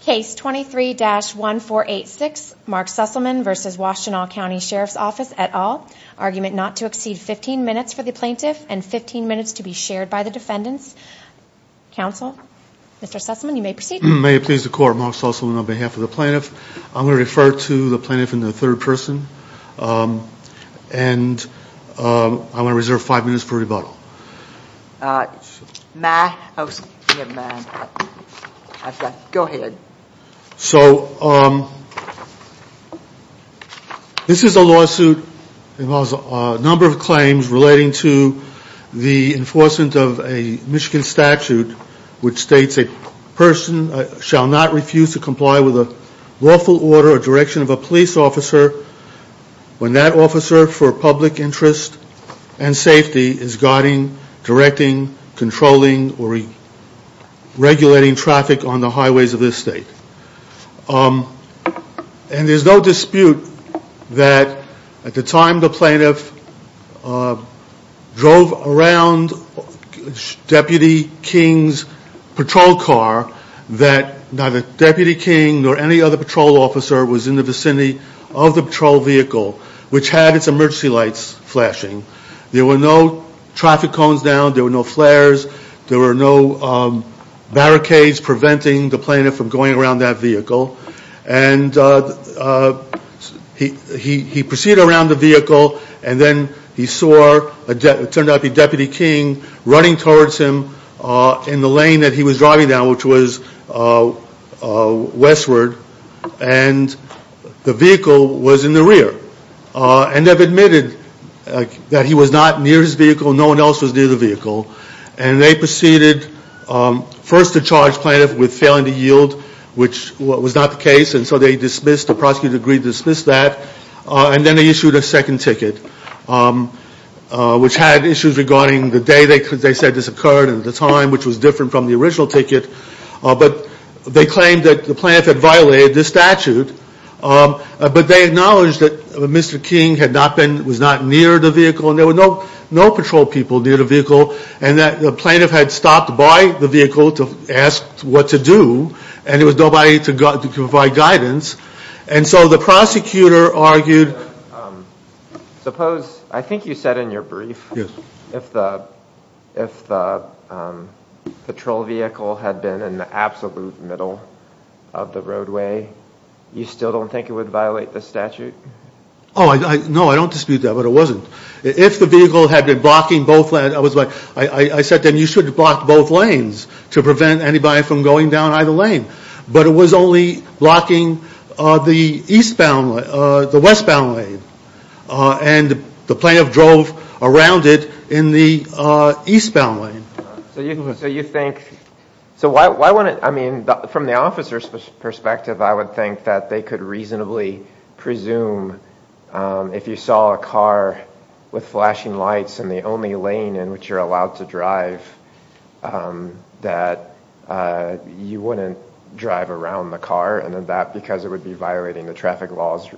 Case 23-1486, Mark Susselman v. Washtenaw County Sheriff's Office, et al. Argument not to exceed 15 minutes for the plaintiff and 15 minutes to be shared by the defendants. Counsel, Mr. Susselman, you may proceed. May it please the Court, Mark Susselman on behalf of the plaintiff. I'm going to refer to the plaintiff in the third person. And I want to reserve five minutes for rebuttal. Go ahead. So, this is a lawsuit. It involves a number of claims relating to the enforcement of a Michigan statute which states a person shall not refuse to comply with a lawful order or direction of a police officer when that officer for public interest and safety is guiding, directing, controlling, or regulating traffic on the highways of this state. And there's no dispute that at the time the plaintiff drove around Deputy King's patrol car, that neither Deputy King nor any other patrol officer was in the vicinity of the patrol vehicle which had its emergency lights flashing. There were no traffic cones down. There were no flares. There were no barricades preventing the plaintiff from going around that vehicle. And he proceeded around the vehicle and then he saw what turned out to be Deputy King running towards him in the lane that he was driving down which was westward. And the vehicle was in the rear. And they've admitted that he was not near his vehicle. No one else was near the vehicle. And they proceeded first to charge plaintiff with failing to yield which was not the case. And so they dismissed, the prosecutor agreed to dismiss that. And then they issued a second ticket which had issues regarding the day they said this occurred and the time which was different from the original ticket. But they claimed that the plaintiff had violated the statute. But they acknowledged that Mr. King was not near the vehicle. And there were no patrol people near the vehicle. And the plaintiff had stopped by the vehicle to ask what to do. And there was nobody to provide guidance. And so the prosecutor argued. Suppose, I think you said in your brief. If the patrol vehicle had been in the absolute middle of the roadway, you still don't think it would violate the statute? Oh, no, I don't dispute that. But it wasn't. If the vehicle had been blocking both lanes, I said then you should have blocked both lanes to prevent anybody from going down either lane. But it was only blocking the eastbound, the westbound lane. And the plaintiff drove around it in the eastbound lane. So you think, so why wouldn't, I mean, from the officer's perspective, I would think that they could reasonably presume if you saw a car with flashing lights and the only lane in which you're allowed to drive that you wouldn't drive around the car. And that because it would be violating the traffic laws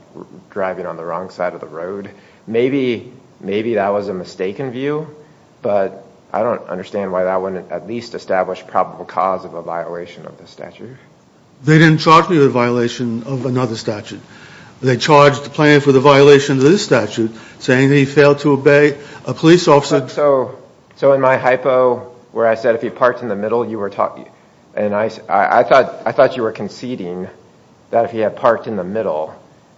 driving on the wrong side of the road. Maybe that was a mistaken view. But I don't understand why that wouldn't at least establish probable cause of a violation of the statute. They didn't charge me with a violation of another statute. They charged the plaintiff with a violation of this statute saying he failed to obey a police officer. So in my hypo where I said if he parked in the middle, you were talking, and I thought you were conceding that if he had parked in the middle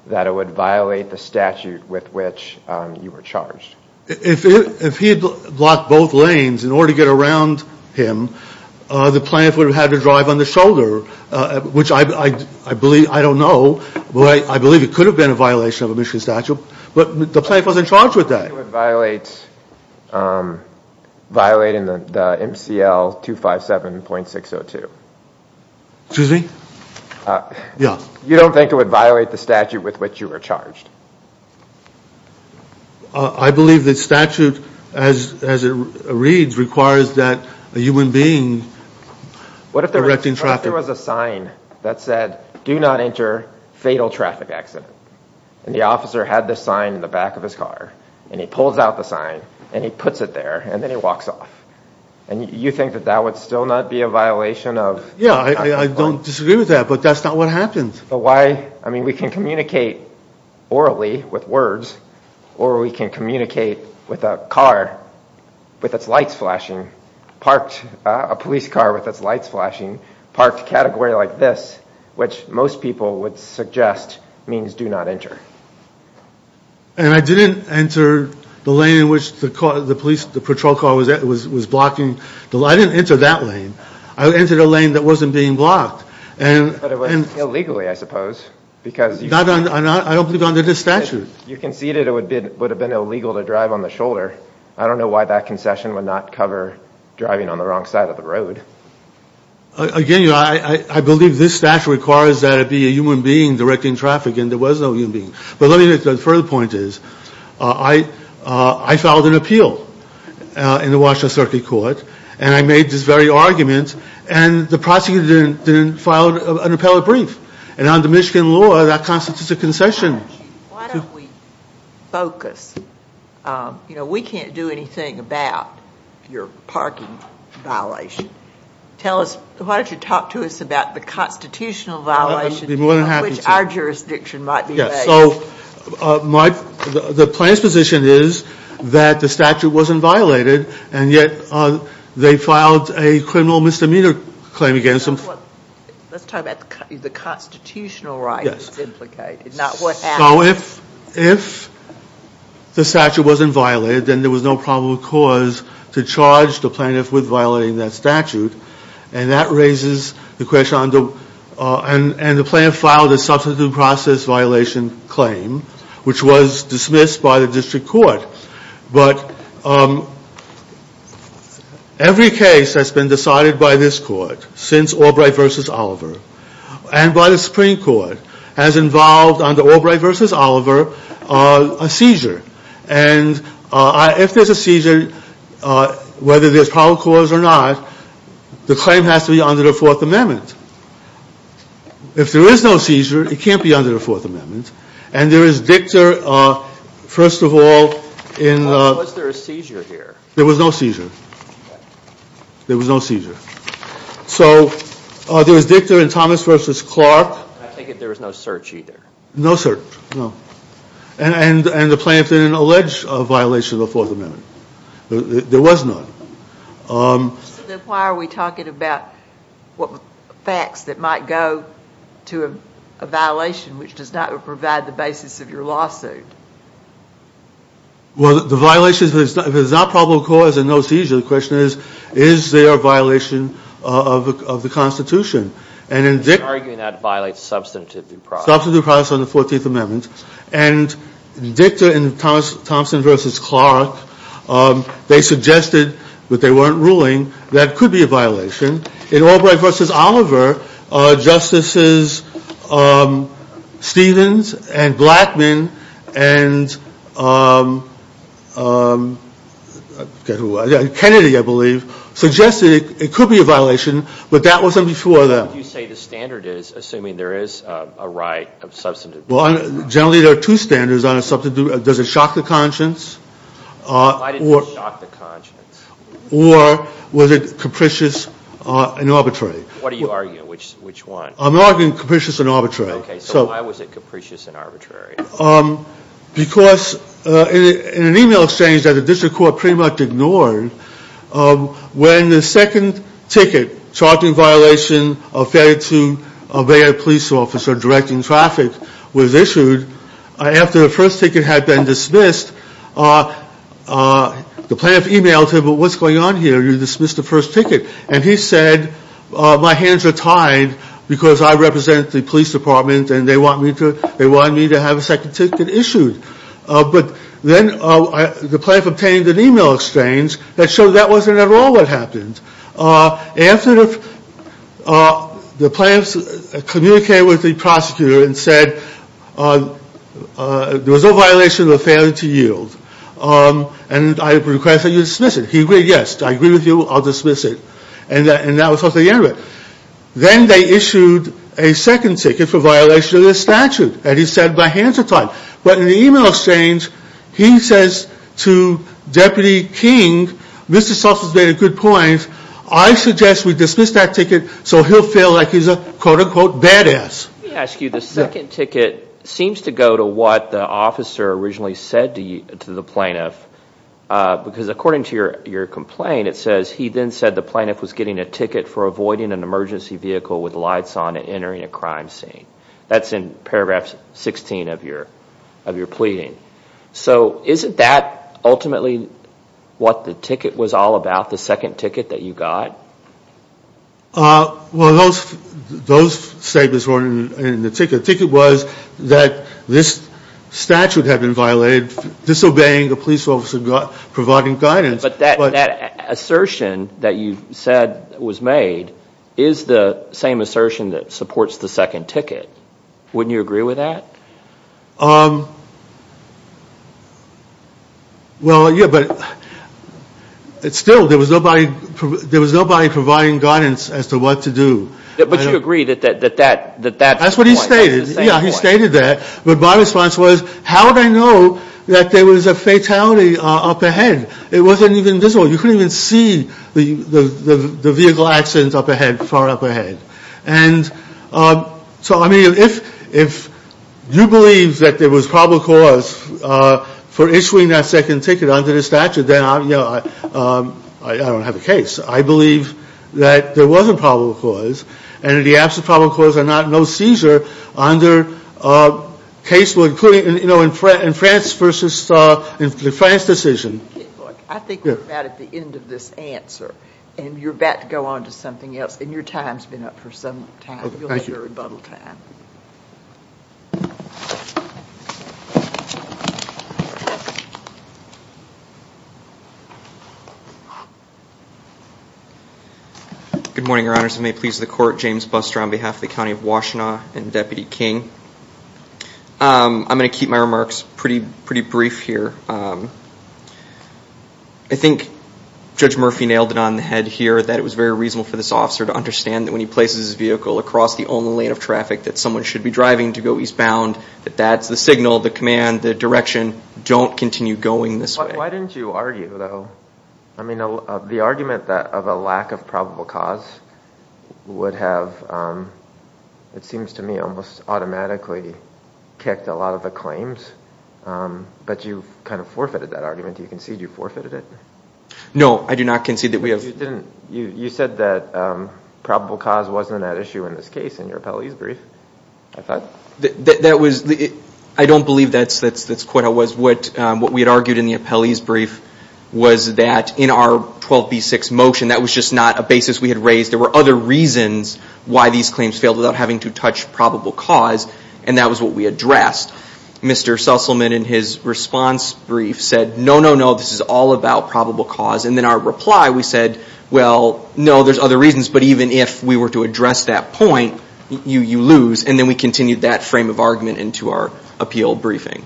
that it would violate the statute with which you were charged. If he had blocked both lanes in order to get around him, the plaintiff would have had to drive on the shoulder, which I believe, I don't know. I believe it could have been a violation of a Michigan statute. But the plaintiff wasn't charged with that. I don't think it would violate the MCL 257.602. Excuse me? Yeah. You don't think it would violate the statute with which you were charged? I believe the statute, as it reads, requires that a human being directing traffic. What if there was a sign that said do not enter fatal traffic accident, and the officer had this sign in the back of his car, and he pulls out the sign, and he puts it there, and then he walks off? And you think that that would still not be a violation of? Yeah, I don't disagree with that, but that's not what happens. But why? I mean, we can communicate orally with words, or we can communicate with a car with its lights flashing, parked a police car with its lights flashing, parked a category like this, which most people would suggest means do not enter. And I didn't enter the lane in which the patrol car was blocking. I didn't enter that lane. I entered a lane that wasn't being blocked. But it wasn't illegally, I suppose. I don't believe under this statute. You conceded it would have been illegal to drive on the shoulder. I don't know why that concession would not cover driving on the wrong side of the road. Again, I believe this statute requires that it be a human being directing traffic, and there was no human being. But let me get to the further point. I filed an appeal in the Washington Circuit Court, and I made this very argument, and the prosecutor didn't file an appellate brief. And under Michigan law, that constitutes a concession. Why don't we focus? You know, we can't do anything about your parking violation. Why don't you talk to us about the constitutional violation of which our jurisdiction might be based. So the plaintiff's position is that the statute wasn't violated, and yet they filed a criminal misdemeanor claim against them. Let's talk about the constitutional rights implicated, not what happened. So if the statute wasn't violated, then there was no probable cause to charge the plaintiff with violating that statute. And that raises the question, and the plaintiff filed a substitute process violation claim, which was dismissed by the district court. But every case that's been decided by this court since Albright v. Oliver, and by the Supreme Court, has involved, under Albright v. Oliver, a seizure. And if there's a seizure, whether there's probable cause or not, the claim has to be under the Fourth Amendment. If there is no seizure, it can't be under the Fourth Amendment. And there is dicta, first of all, in- Was there a seizure here? There was no seizure. There was no seizure. So there was dicta in Thomas v. Clark. I take it there was no search either. No search, no. And the plaintiff didn't allege a violation of the Fourth Amendment. There was none. Then why are we talking about facts that might go to a violation which does not provide the basis of your lawsuit? Well, the violation, if there's not probable cause and no seizure, the question is, is there a violation of the Constitution? And in dicta- He's arguing that violates substantive due process. Substantive due process under the Fourteenth Amendment. And dicta in Thompson v. Clark, they suggested, but they weren't ruling, that could be a violation. In Albright v. Oliver, Justices Stevens and Blackmun and Kennedy, I believe, suggested it could be a violation, but that wasn't before them. You say the standard is assuming there is a right of substantive due process. Well, generally there are two standards on a substantive due process. Does it shock the conscience? Why did it shock the conscience? Or was it capricious and arbitrary? What are you arguing? Which one? I'm arguing capricious and arbitrary. Okay, so why was it capricious and arbitrary? Because in an email exchange that the district court pretty much ignored, when the second ticket, Charging violation of failure to obey a police officer directing traffic, was issued, after the first ticket had been dismissed, the plaintiff emailed him, What's going on here? You dismissed the first ticket. And he said, My hands are tied because I represent the police department and they want me to have a second ticket issued. But then the plaintiff obtained an email exchange that showed that wasn't at all what happened. After the plaintiff communicated with the prosecutor and said, There was no violation of the failure to yield. And I request that you dismiss it. He agreed, yes. I agree with you. I'll dismiss it. And that was how they ended it. Then they issued a second ticket for violation of the statute. And he said, My hands are tied. But in the email exchange, he says to Deputy King, Mr. Schultz has made a good point. I suggest we dismiss that ticket so he'll feel like he's a quote-unquote badass. Let me ask you, the second ticket seems to go to what the officer originally said to the plaintiff. Because according to your complaint, it says, He then said the plaintiff was getting a ticket for avoiding an emergency vehicle with lights on and entering a crime scene. That's in paragraph 16 of your pleading. So isn't that ultimately what the ticket was all about? The second ticket that you got? Well, those statements weren't in the ticket. The ticket was that this statute had been violated, disobeying the police officer, providing guidance. But that assertion that you said was made is the same assertion that supports the second ticket. Wouldn't you agree with that? Well, yeah. But still, there was nobody providing guidance as to what to do. But you agree that that's the same point? That's what he stated. Yeah, he stated that. But my response was, How would I know that there was a fatality up ahead? It wasn't even visible. You couldn't even see the vehicle accident up ahead, far up ahead. So, I mean, if you believe that there was probable cause for issuing that second ticket under the statute, then I don't have a case. I believe that there was a probable cause, and in the absence of probable cause and no seizure under case law, including in France's decision. I think we're about at the end of this answer. And you're about to go on to something else. And your time's been up for some time. You'll have your rebuttal time. Good morning, Your Honors. And may it please the Court, James Buster on behalf of the County of Washtenaw and Deputy King. I'm going to keep my remarks pretty brief here. I think Judge Murphy nailed it on the head here that it was very reasonable for this officer to understand that when he places his vehicle across the only lane of traffic that someone should be driving to go eastbound, that that's the signal, the command, the direction, don't continue going this way. Why didn't you argue, though? I mean, the argument of a lack of probable cause would have, it seems to me, almost automatically kicked a lot of the claims. But you kind of forfeited that argument. Do you concede you forfeited it? No, I do not concede that we have. You said that probable cause wasn't an issue in this case in your appellee's brief, I thought. That was, I don't believe that's quite how it was. What we had argued in the appellee's brief was that in our 12B6 motion, that was just not a basis we had raised. There were other reasons why these claims failed without having to touch probable cause. And that was what we addressed. Mr. Susselman, in his response brief, said, no, no, no, this is all about probable cause. And then our reply, we said, well, no, there's other reasons, but even if we were to address that point, you lose. And then we continued that frame of argument into our appeal briefing.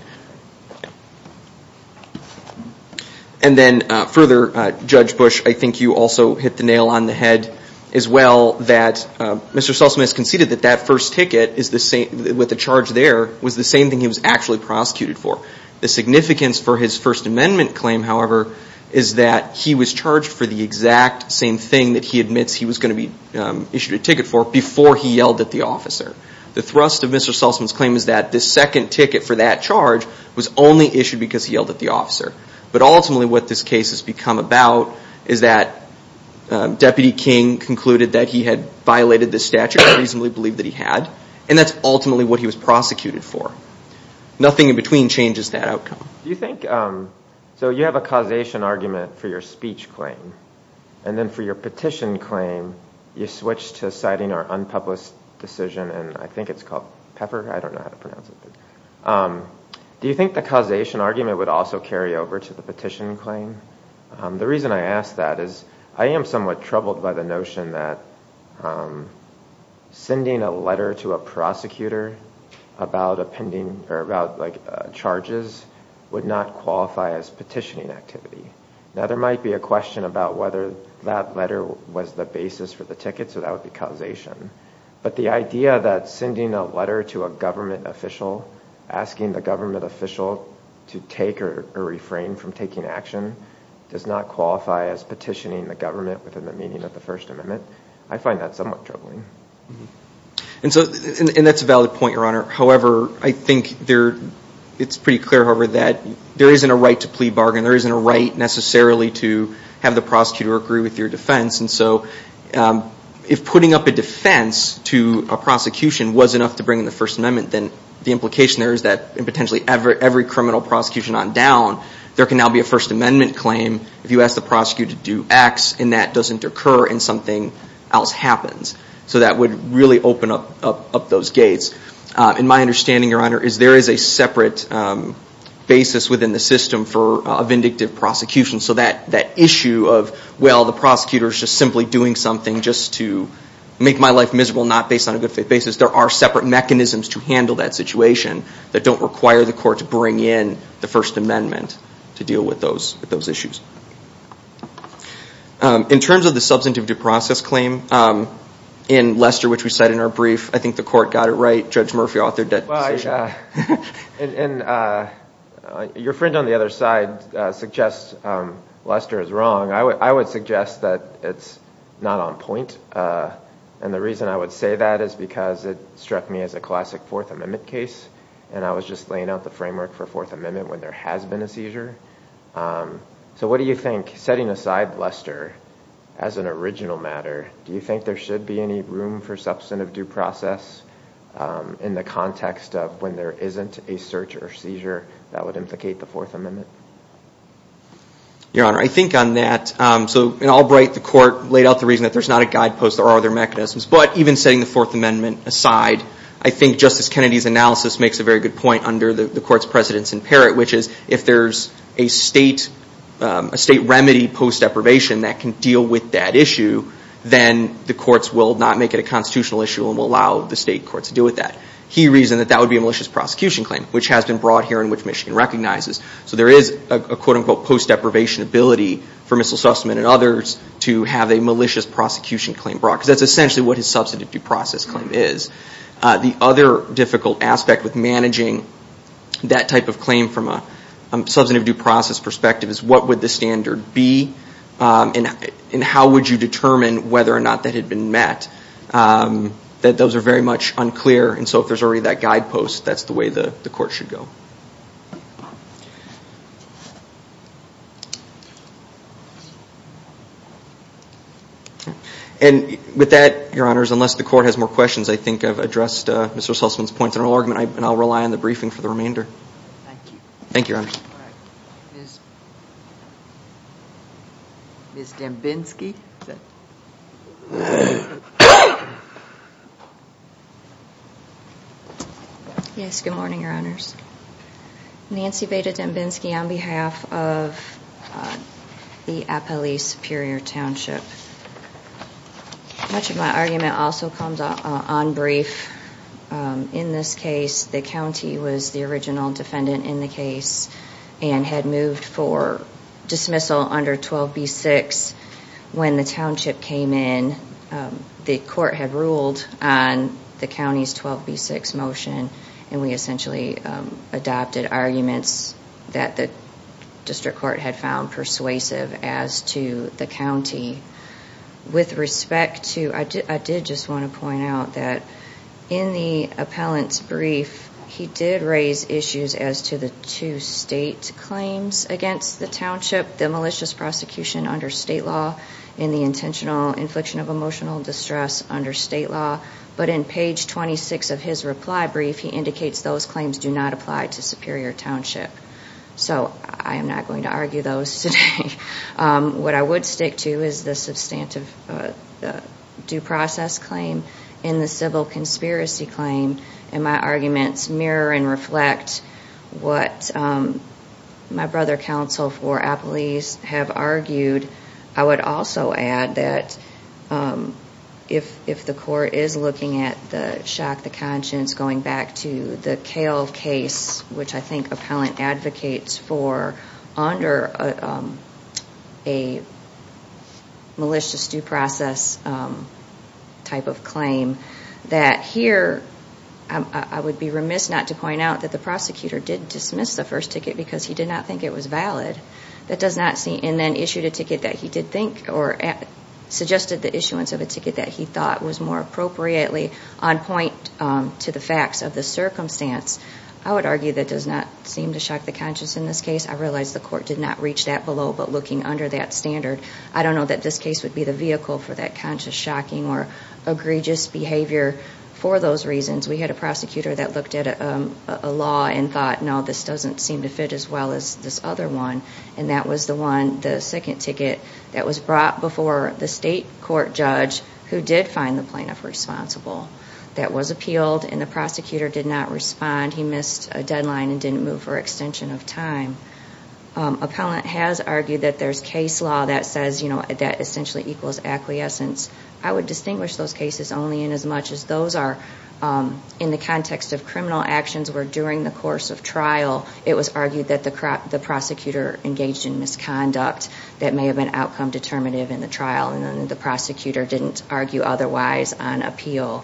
And then further, Judge Bush, I think you also hit the nail on the head as well, that Mr. Susselman has conceded that that first ticket with the charge there was the same thing he was actually prosecuted for. The significance for his First Amendment claim, however, is that he was charged for the exact same thing that he admits he was going to be issued a ticket for before he yelled at the officer. The thrust of Mr. Susselman's claim is that the second ticket for that charge was only issued because he yelled at the officer. But ultimately, what this case has become about is that Deputy King concluded that he had violated the statute. I reasonably believe that he had. And that's ultimately what he was prosecuted for. Nothing in between changes that outcome. So you have a causation argument for your speech claim. And then for your petition claim, you switch to citing our unpublished decision, and I think it's called Pepper. I don't know how to pronounce it. Do you think the causation argument would also carry over to the petition claim? The reason I ask that is I am somewhat troubled by the notion that sending a letter to a prosecutor about charges would not qualify as petitioning activity. Now, there might be a question about whether that letter was the basis for the ticket, so that would be causation. But the idea that sending a letter to a government official, asking the government official to take or refrain from taking action, does not qualify as petitioning the government within the meaning of the First Amendment, I find that somewhat troubling. And that's a valid point, Your Honor. However, I think it's pretty clear, however, that there isn't a right to plea bargain. There isn't a right necessarily to have the prosecutor agree with your defense. And so if putting up a defense to a prosecution was enough to bring in the First Amendment, then the implication there is that in potentially every criminal prosecution on down, there can now be a First Amendment claim if you ask the prosecutor to do X and that doesn't occur and something else happens. So that would really open up those gates. And my understanding, Your Honor, is there is a separate basis within the system for a vindictive prosecution. So that issue of, well, the prosecutor is just simply doing something just to make my life miserable, not based on a good faith basis, there are separate mechanisms to handle that situation that don't require the court to bring in the First Amendment to deal with those issues. In terms of the substantive due process claim in Lester, which we cite in our brief, I think the court got it right. Judge Murphy authored that decision. Your friend on the other side suggests Lester is wrong. I would suggest that it's not on point. And the reason I would say that is because it struck me as a classic Fourth Amendment case and I was just laying out the framework for Fourth Amendment when there has been a seizure. So what do you think, setting aside Lester as an original matter, do you think there should be any room for substantive due process in the context of when there isn't a search or seizure that would implicate the Fourth Amendment? Your Honor, I think on that, so in Albright the court laid out the reason that there's not a guidepost or other mechanisms, but even setting the Fourth Amendment aside, I think Justice Kennedy's analysis makes a very good point under the court's precedence in Parrott, which is if there's a state remedy post deprivation that can deal with that issue, then the courts will not make it a constitutional issue and will allow the state courts to deal with that. He reasoned that that would be a malicious prosecution claim, which has been brought here and which Michigan recognizes. So there is a quote-unquote post deprivation ability for Mr. Sussman and others to have a malicious prosecution claim brought, because that's essentially what his substantive due process claim is. The other difficult aspect with managing that type of claim from a substantive due process perspective is what would the standard be and how would you determine whether or not that had been met? Those are very much unclear, and so if there's already that guidepost, that's the way the court should go. And with that, Your Honors, unless the court has more questions, I think I've addressed Mr. Sussman's points in our argument, and I'll rely on the briefing for the remainder. Thank you. Thank you, Your Honors. Ms. Dembinski? Yes, good morning, Your Honors. Nancy Beda Dembinski on behalf of the Appali Superior Township. Much of my argument also comes on brief. In this case, the county was the original defendant in the case and had moved for dismissal under 12B6. When the township came in, the court had ruled on the county's 12B6 motion, and we essentially adopted arguments that the district court had found persuasive as to the county. I did just want to point out that in the appellant's brief, he did raise issues as to the two state claims against the township, the malicious prosecution under state law and the intentional infliction of emotional distress under state law. But in page 26 of his reply brief, he indicates those claims do not apply to Superior Township. So I am not going to argue those today. What I would stick to is the substantive due process claim and the civil conspiracy claim, and my arguments mirror and reflect what my brother counsel for Appalese have argued. I would also add that if the court is looking at the shock, the conscience, going back to the Kale case, which I think appellant advocates for under a malicious due process type of claim, that here I would be remiss not to point out that the prosecutor did dismiss the first ticket because he did not think it was valid, and then issued a ticket that he did think or suggested the issuance of a ticket that he thought was more appropriately on point to the facts of the circumstance. I would argue that does not seem to shock the conscience in this case. I realize the court did not reach that below, but looking under that standard, I don't know that this case would be the vehicle for that conscious shocking or egregious behavior for those reasons. We had a prosecutor that looked at a law and thought, no, this doesn't seem to fit as well as this other one, and that was the second ticket that was brought before the state court judge who did find the plaintiff responsible. That was appealed, and the prosecutor did not respond. He missed a deadline and didn't move for extension of time. Appellant has argued that there's case law that says that essentially equals acquiescence. I would distinguish those cases only in as much as those are in the context of criminal actions where during the course of trial it was argued that the prosecutor engaged in misconduct that may have been outcome determinative in the trial, and then the prosecutor didn't argue otherwise on appeal.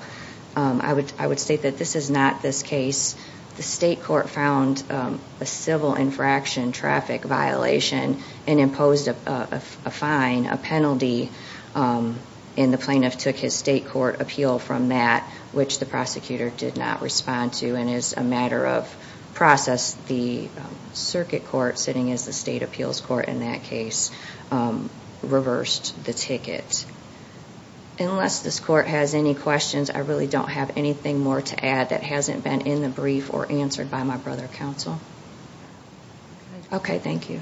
I would state that this is not this case. The state court found a civil infraction traffic violation and imposed a fine, a penalty, and the plaintiff took his state court appeal from that, which the prosecutor did not respond to and is a matter of process. The circuit court sitting as the state appeals court in that case reversed the ticket. Unless this court has any questions, I really don't have anything more to add that hasn't been in the brief or answered by my brother counsel. Okay, thank you.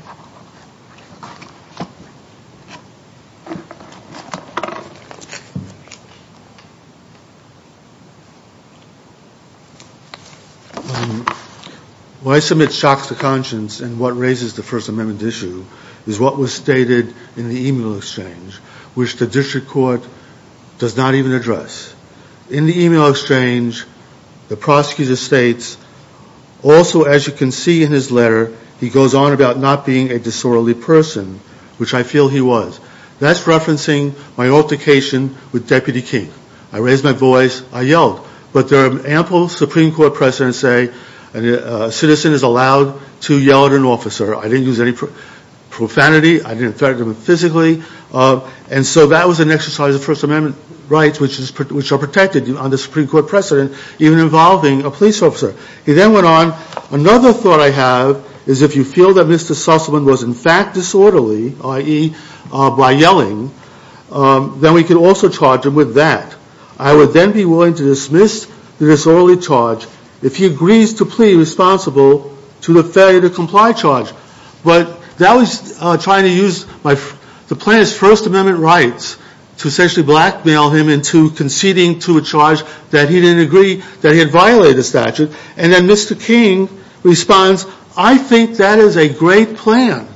When I submit shocks to conscience and what raises the First Amendment issue is what was stated in the email exchange, which the district court does not even address. In the email exchange, the prosecutor states, also as you can see in his letter, he goes on about not being a disorderly person, which I feel he was. That's referencing my altercation with Deputy King. I raised my voice, I yelled, but there are ample Supreme Court precedents say a citizen is allowed to yell at an officer. I didn't use any profanity. I didn't threaten him physically, and so that was an exercise of First Amendment rights, which are protected under Supreme Court precedent, even involving a police officer. He then went on, another thought I have is if you feel that Mr. Sussman was in fact disorderly, i.e., by yelling, then we could also charge him with that. I would then be willing to dismiss the disorderly charge if he agrees to plead responsible to the failure to comply charge. But that was trying to use the plaintiff's First Amendment rights to essentially blackmail him into conceding to a charge that he didn't agree, that he had violated the statute. And then Mr. King responds, I think that is a great plan.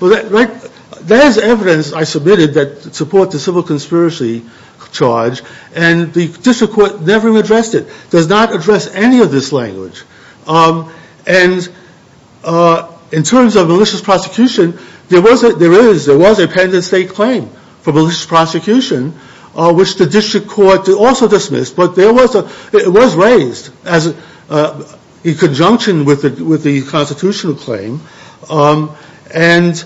There is evidence, I submitted, that supports the civil conspiracy charge, and the district court never addressed it, does not address any of this language. And in terms of malicious prosecution, there was a pendant state claim for malicious prosecution, which the district court also dismissed, but it was raised in conjunction with the constitutional claim. And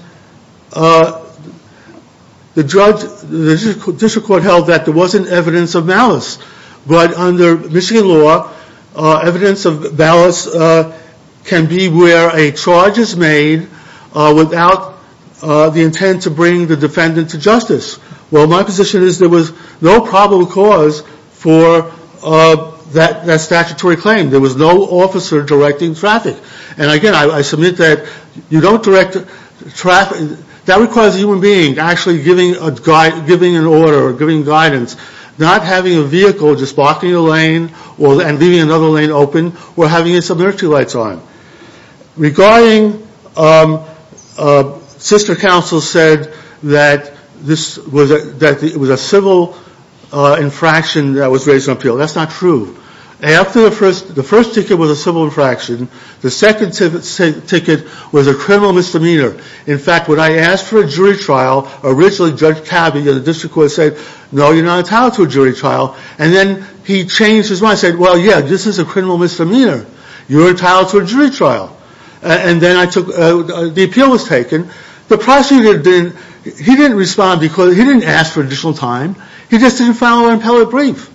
the district court held that there wasn't evidence of malice. But under Michigan law, evidence of malice can be where a charge is made without the intent to bring the defendant to justice. Well, my position is there was no probable cause for that statutory claim. There was no officer directing traffic. And, again, I submit that you don't direct traffic. That requires a human being actually giving an order or giving guidance, not having a vehicle just blocking a lane and leaving another lane open or having its emergency lights on. Regarding sister counsel said that it was a civil infraction that was raised on appeal. That's not true. The first ticket was a civil infraction. The second ticket was a criminal misdemeanor. In fact, when I asked for a jury trial, originally Judge Cabey of the district court said, no, you're not entitled to a jury trial. And then he changed his mind and said, well, yeah, this is a criminal misdemeanor. You're entitled to a jury trial. And then the appeal was taken. The prosecutor didn't respond because he didn't ask for additional time. He just didn't file an appellate brief.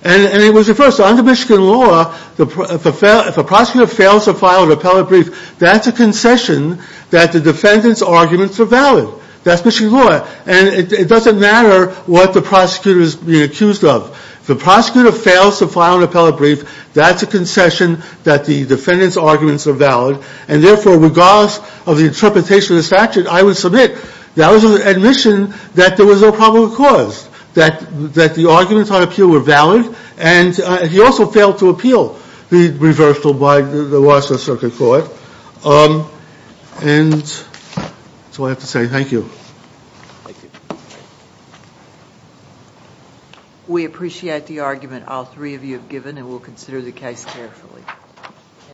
And it was reversed. Under Michigan law, if a prosecutor fails to file an appellate brief, that's a concession that the defendant's arguments are valid. That's Michigan law. And it doesn't matter what the prosecutor is being accused of. If the prosecutor fails to file an appellate brief, that's a concession that the defendant's arguments are valid. And, therefore, regardless of the interpretation of the statute, I would submit that was an admission that there was no probable cause, that the arguments on appeal were valid, and he also failed to appeal the reversal by the Washington Circuit Court. And that's all I have to say. Thank you. Thank you. We appreciate the argument all three of you have given, and we'll consider the case carefully.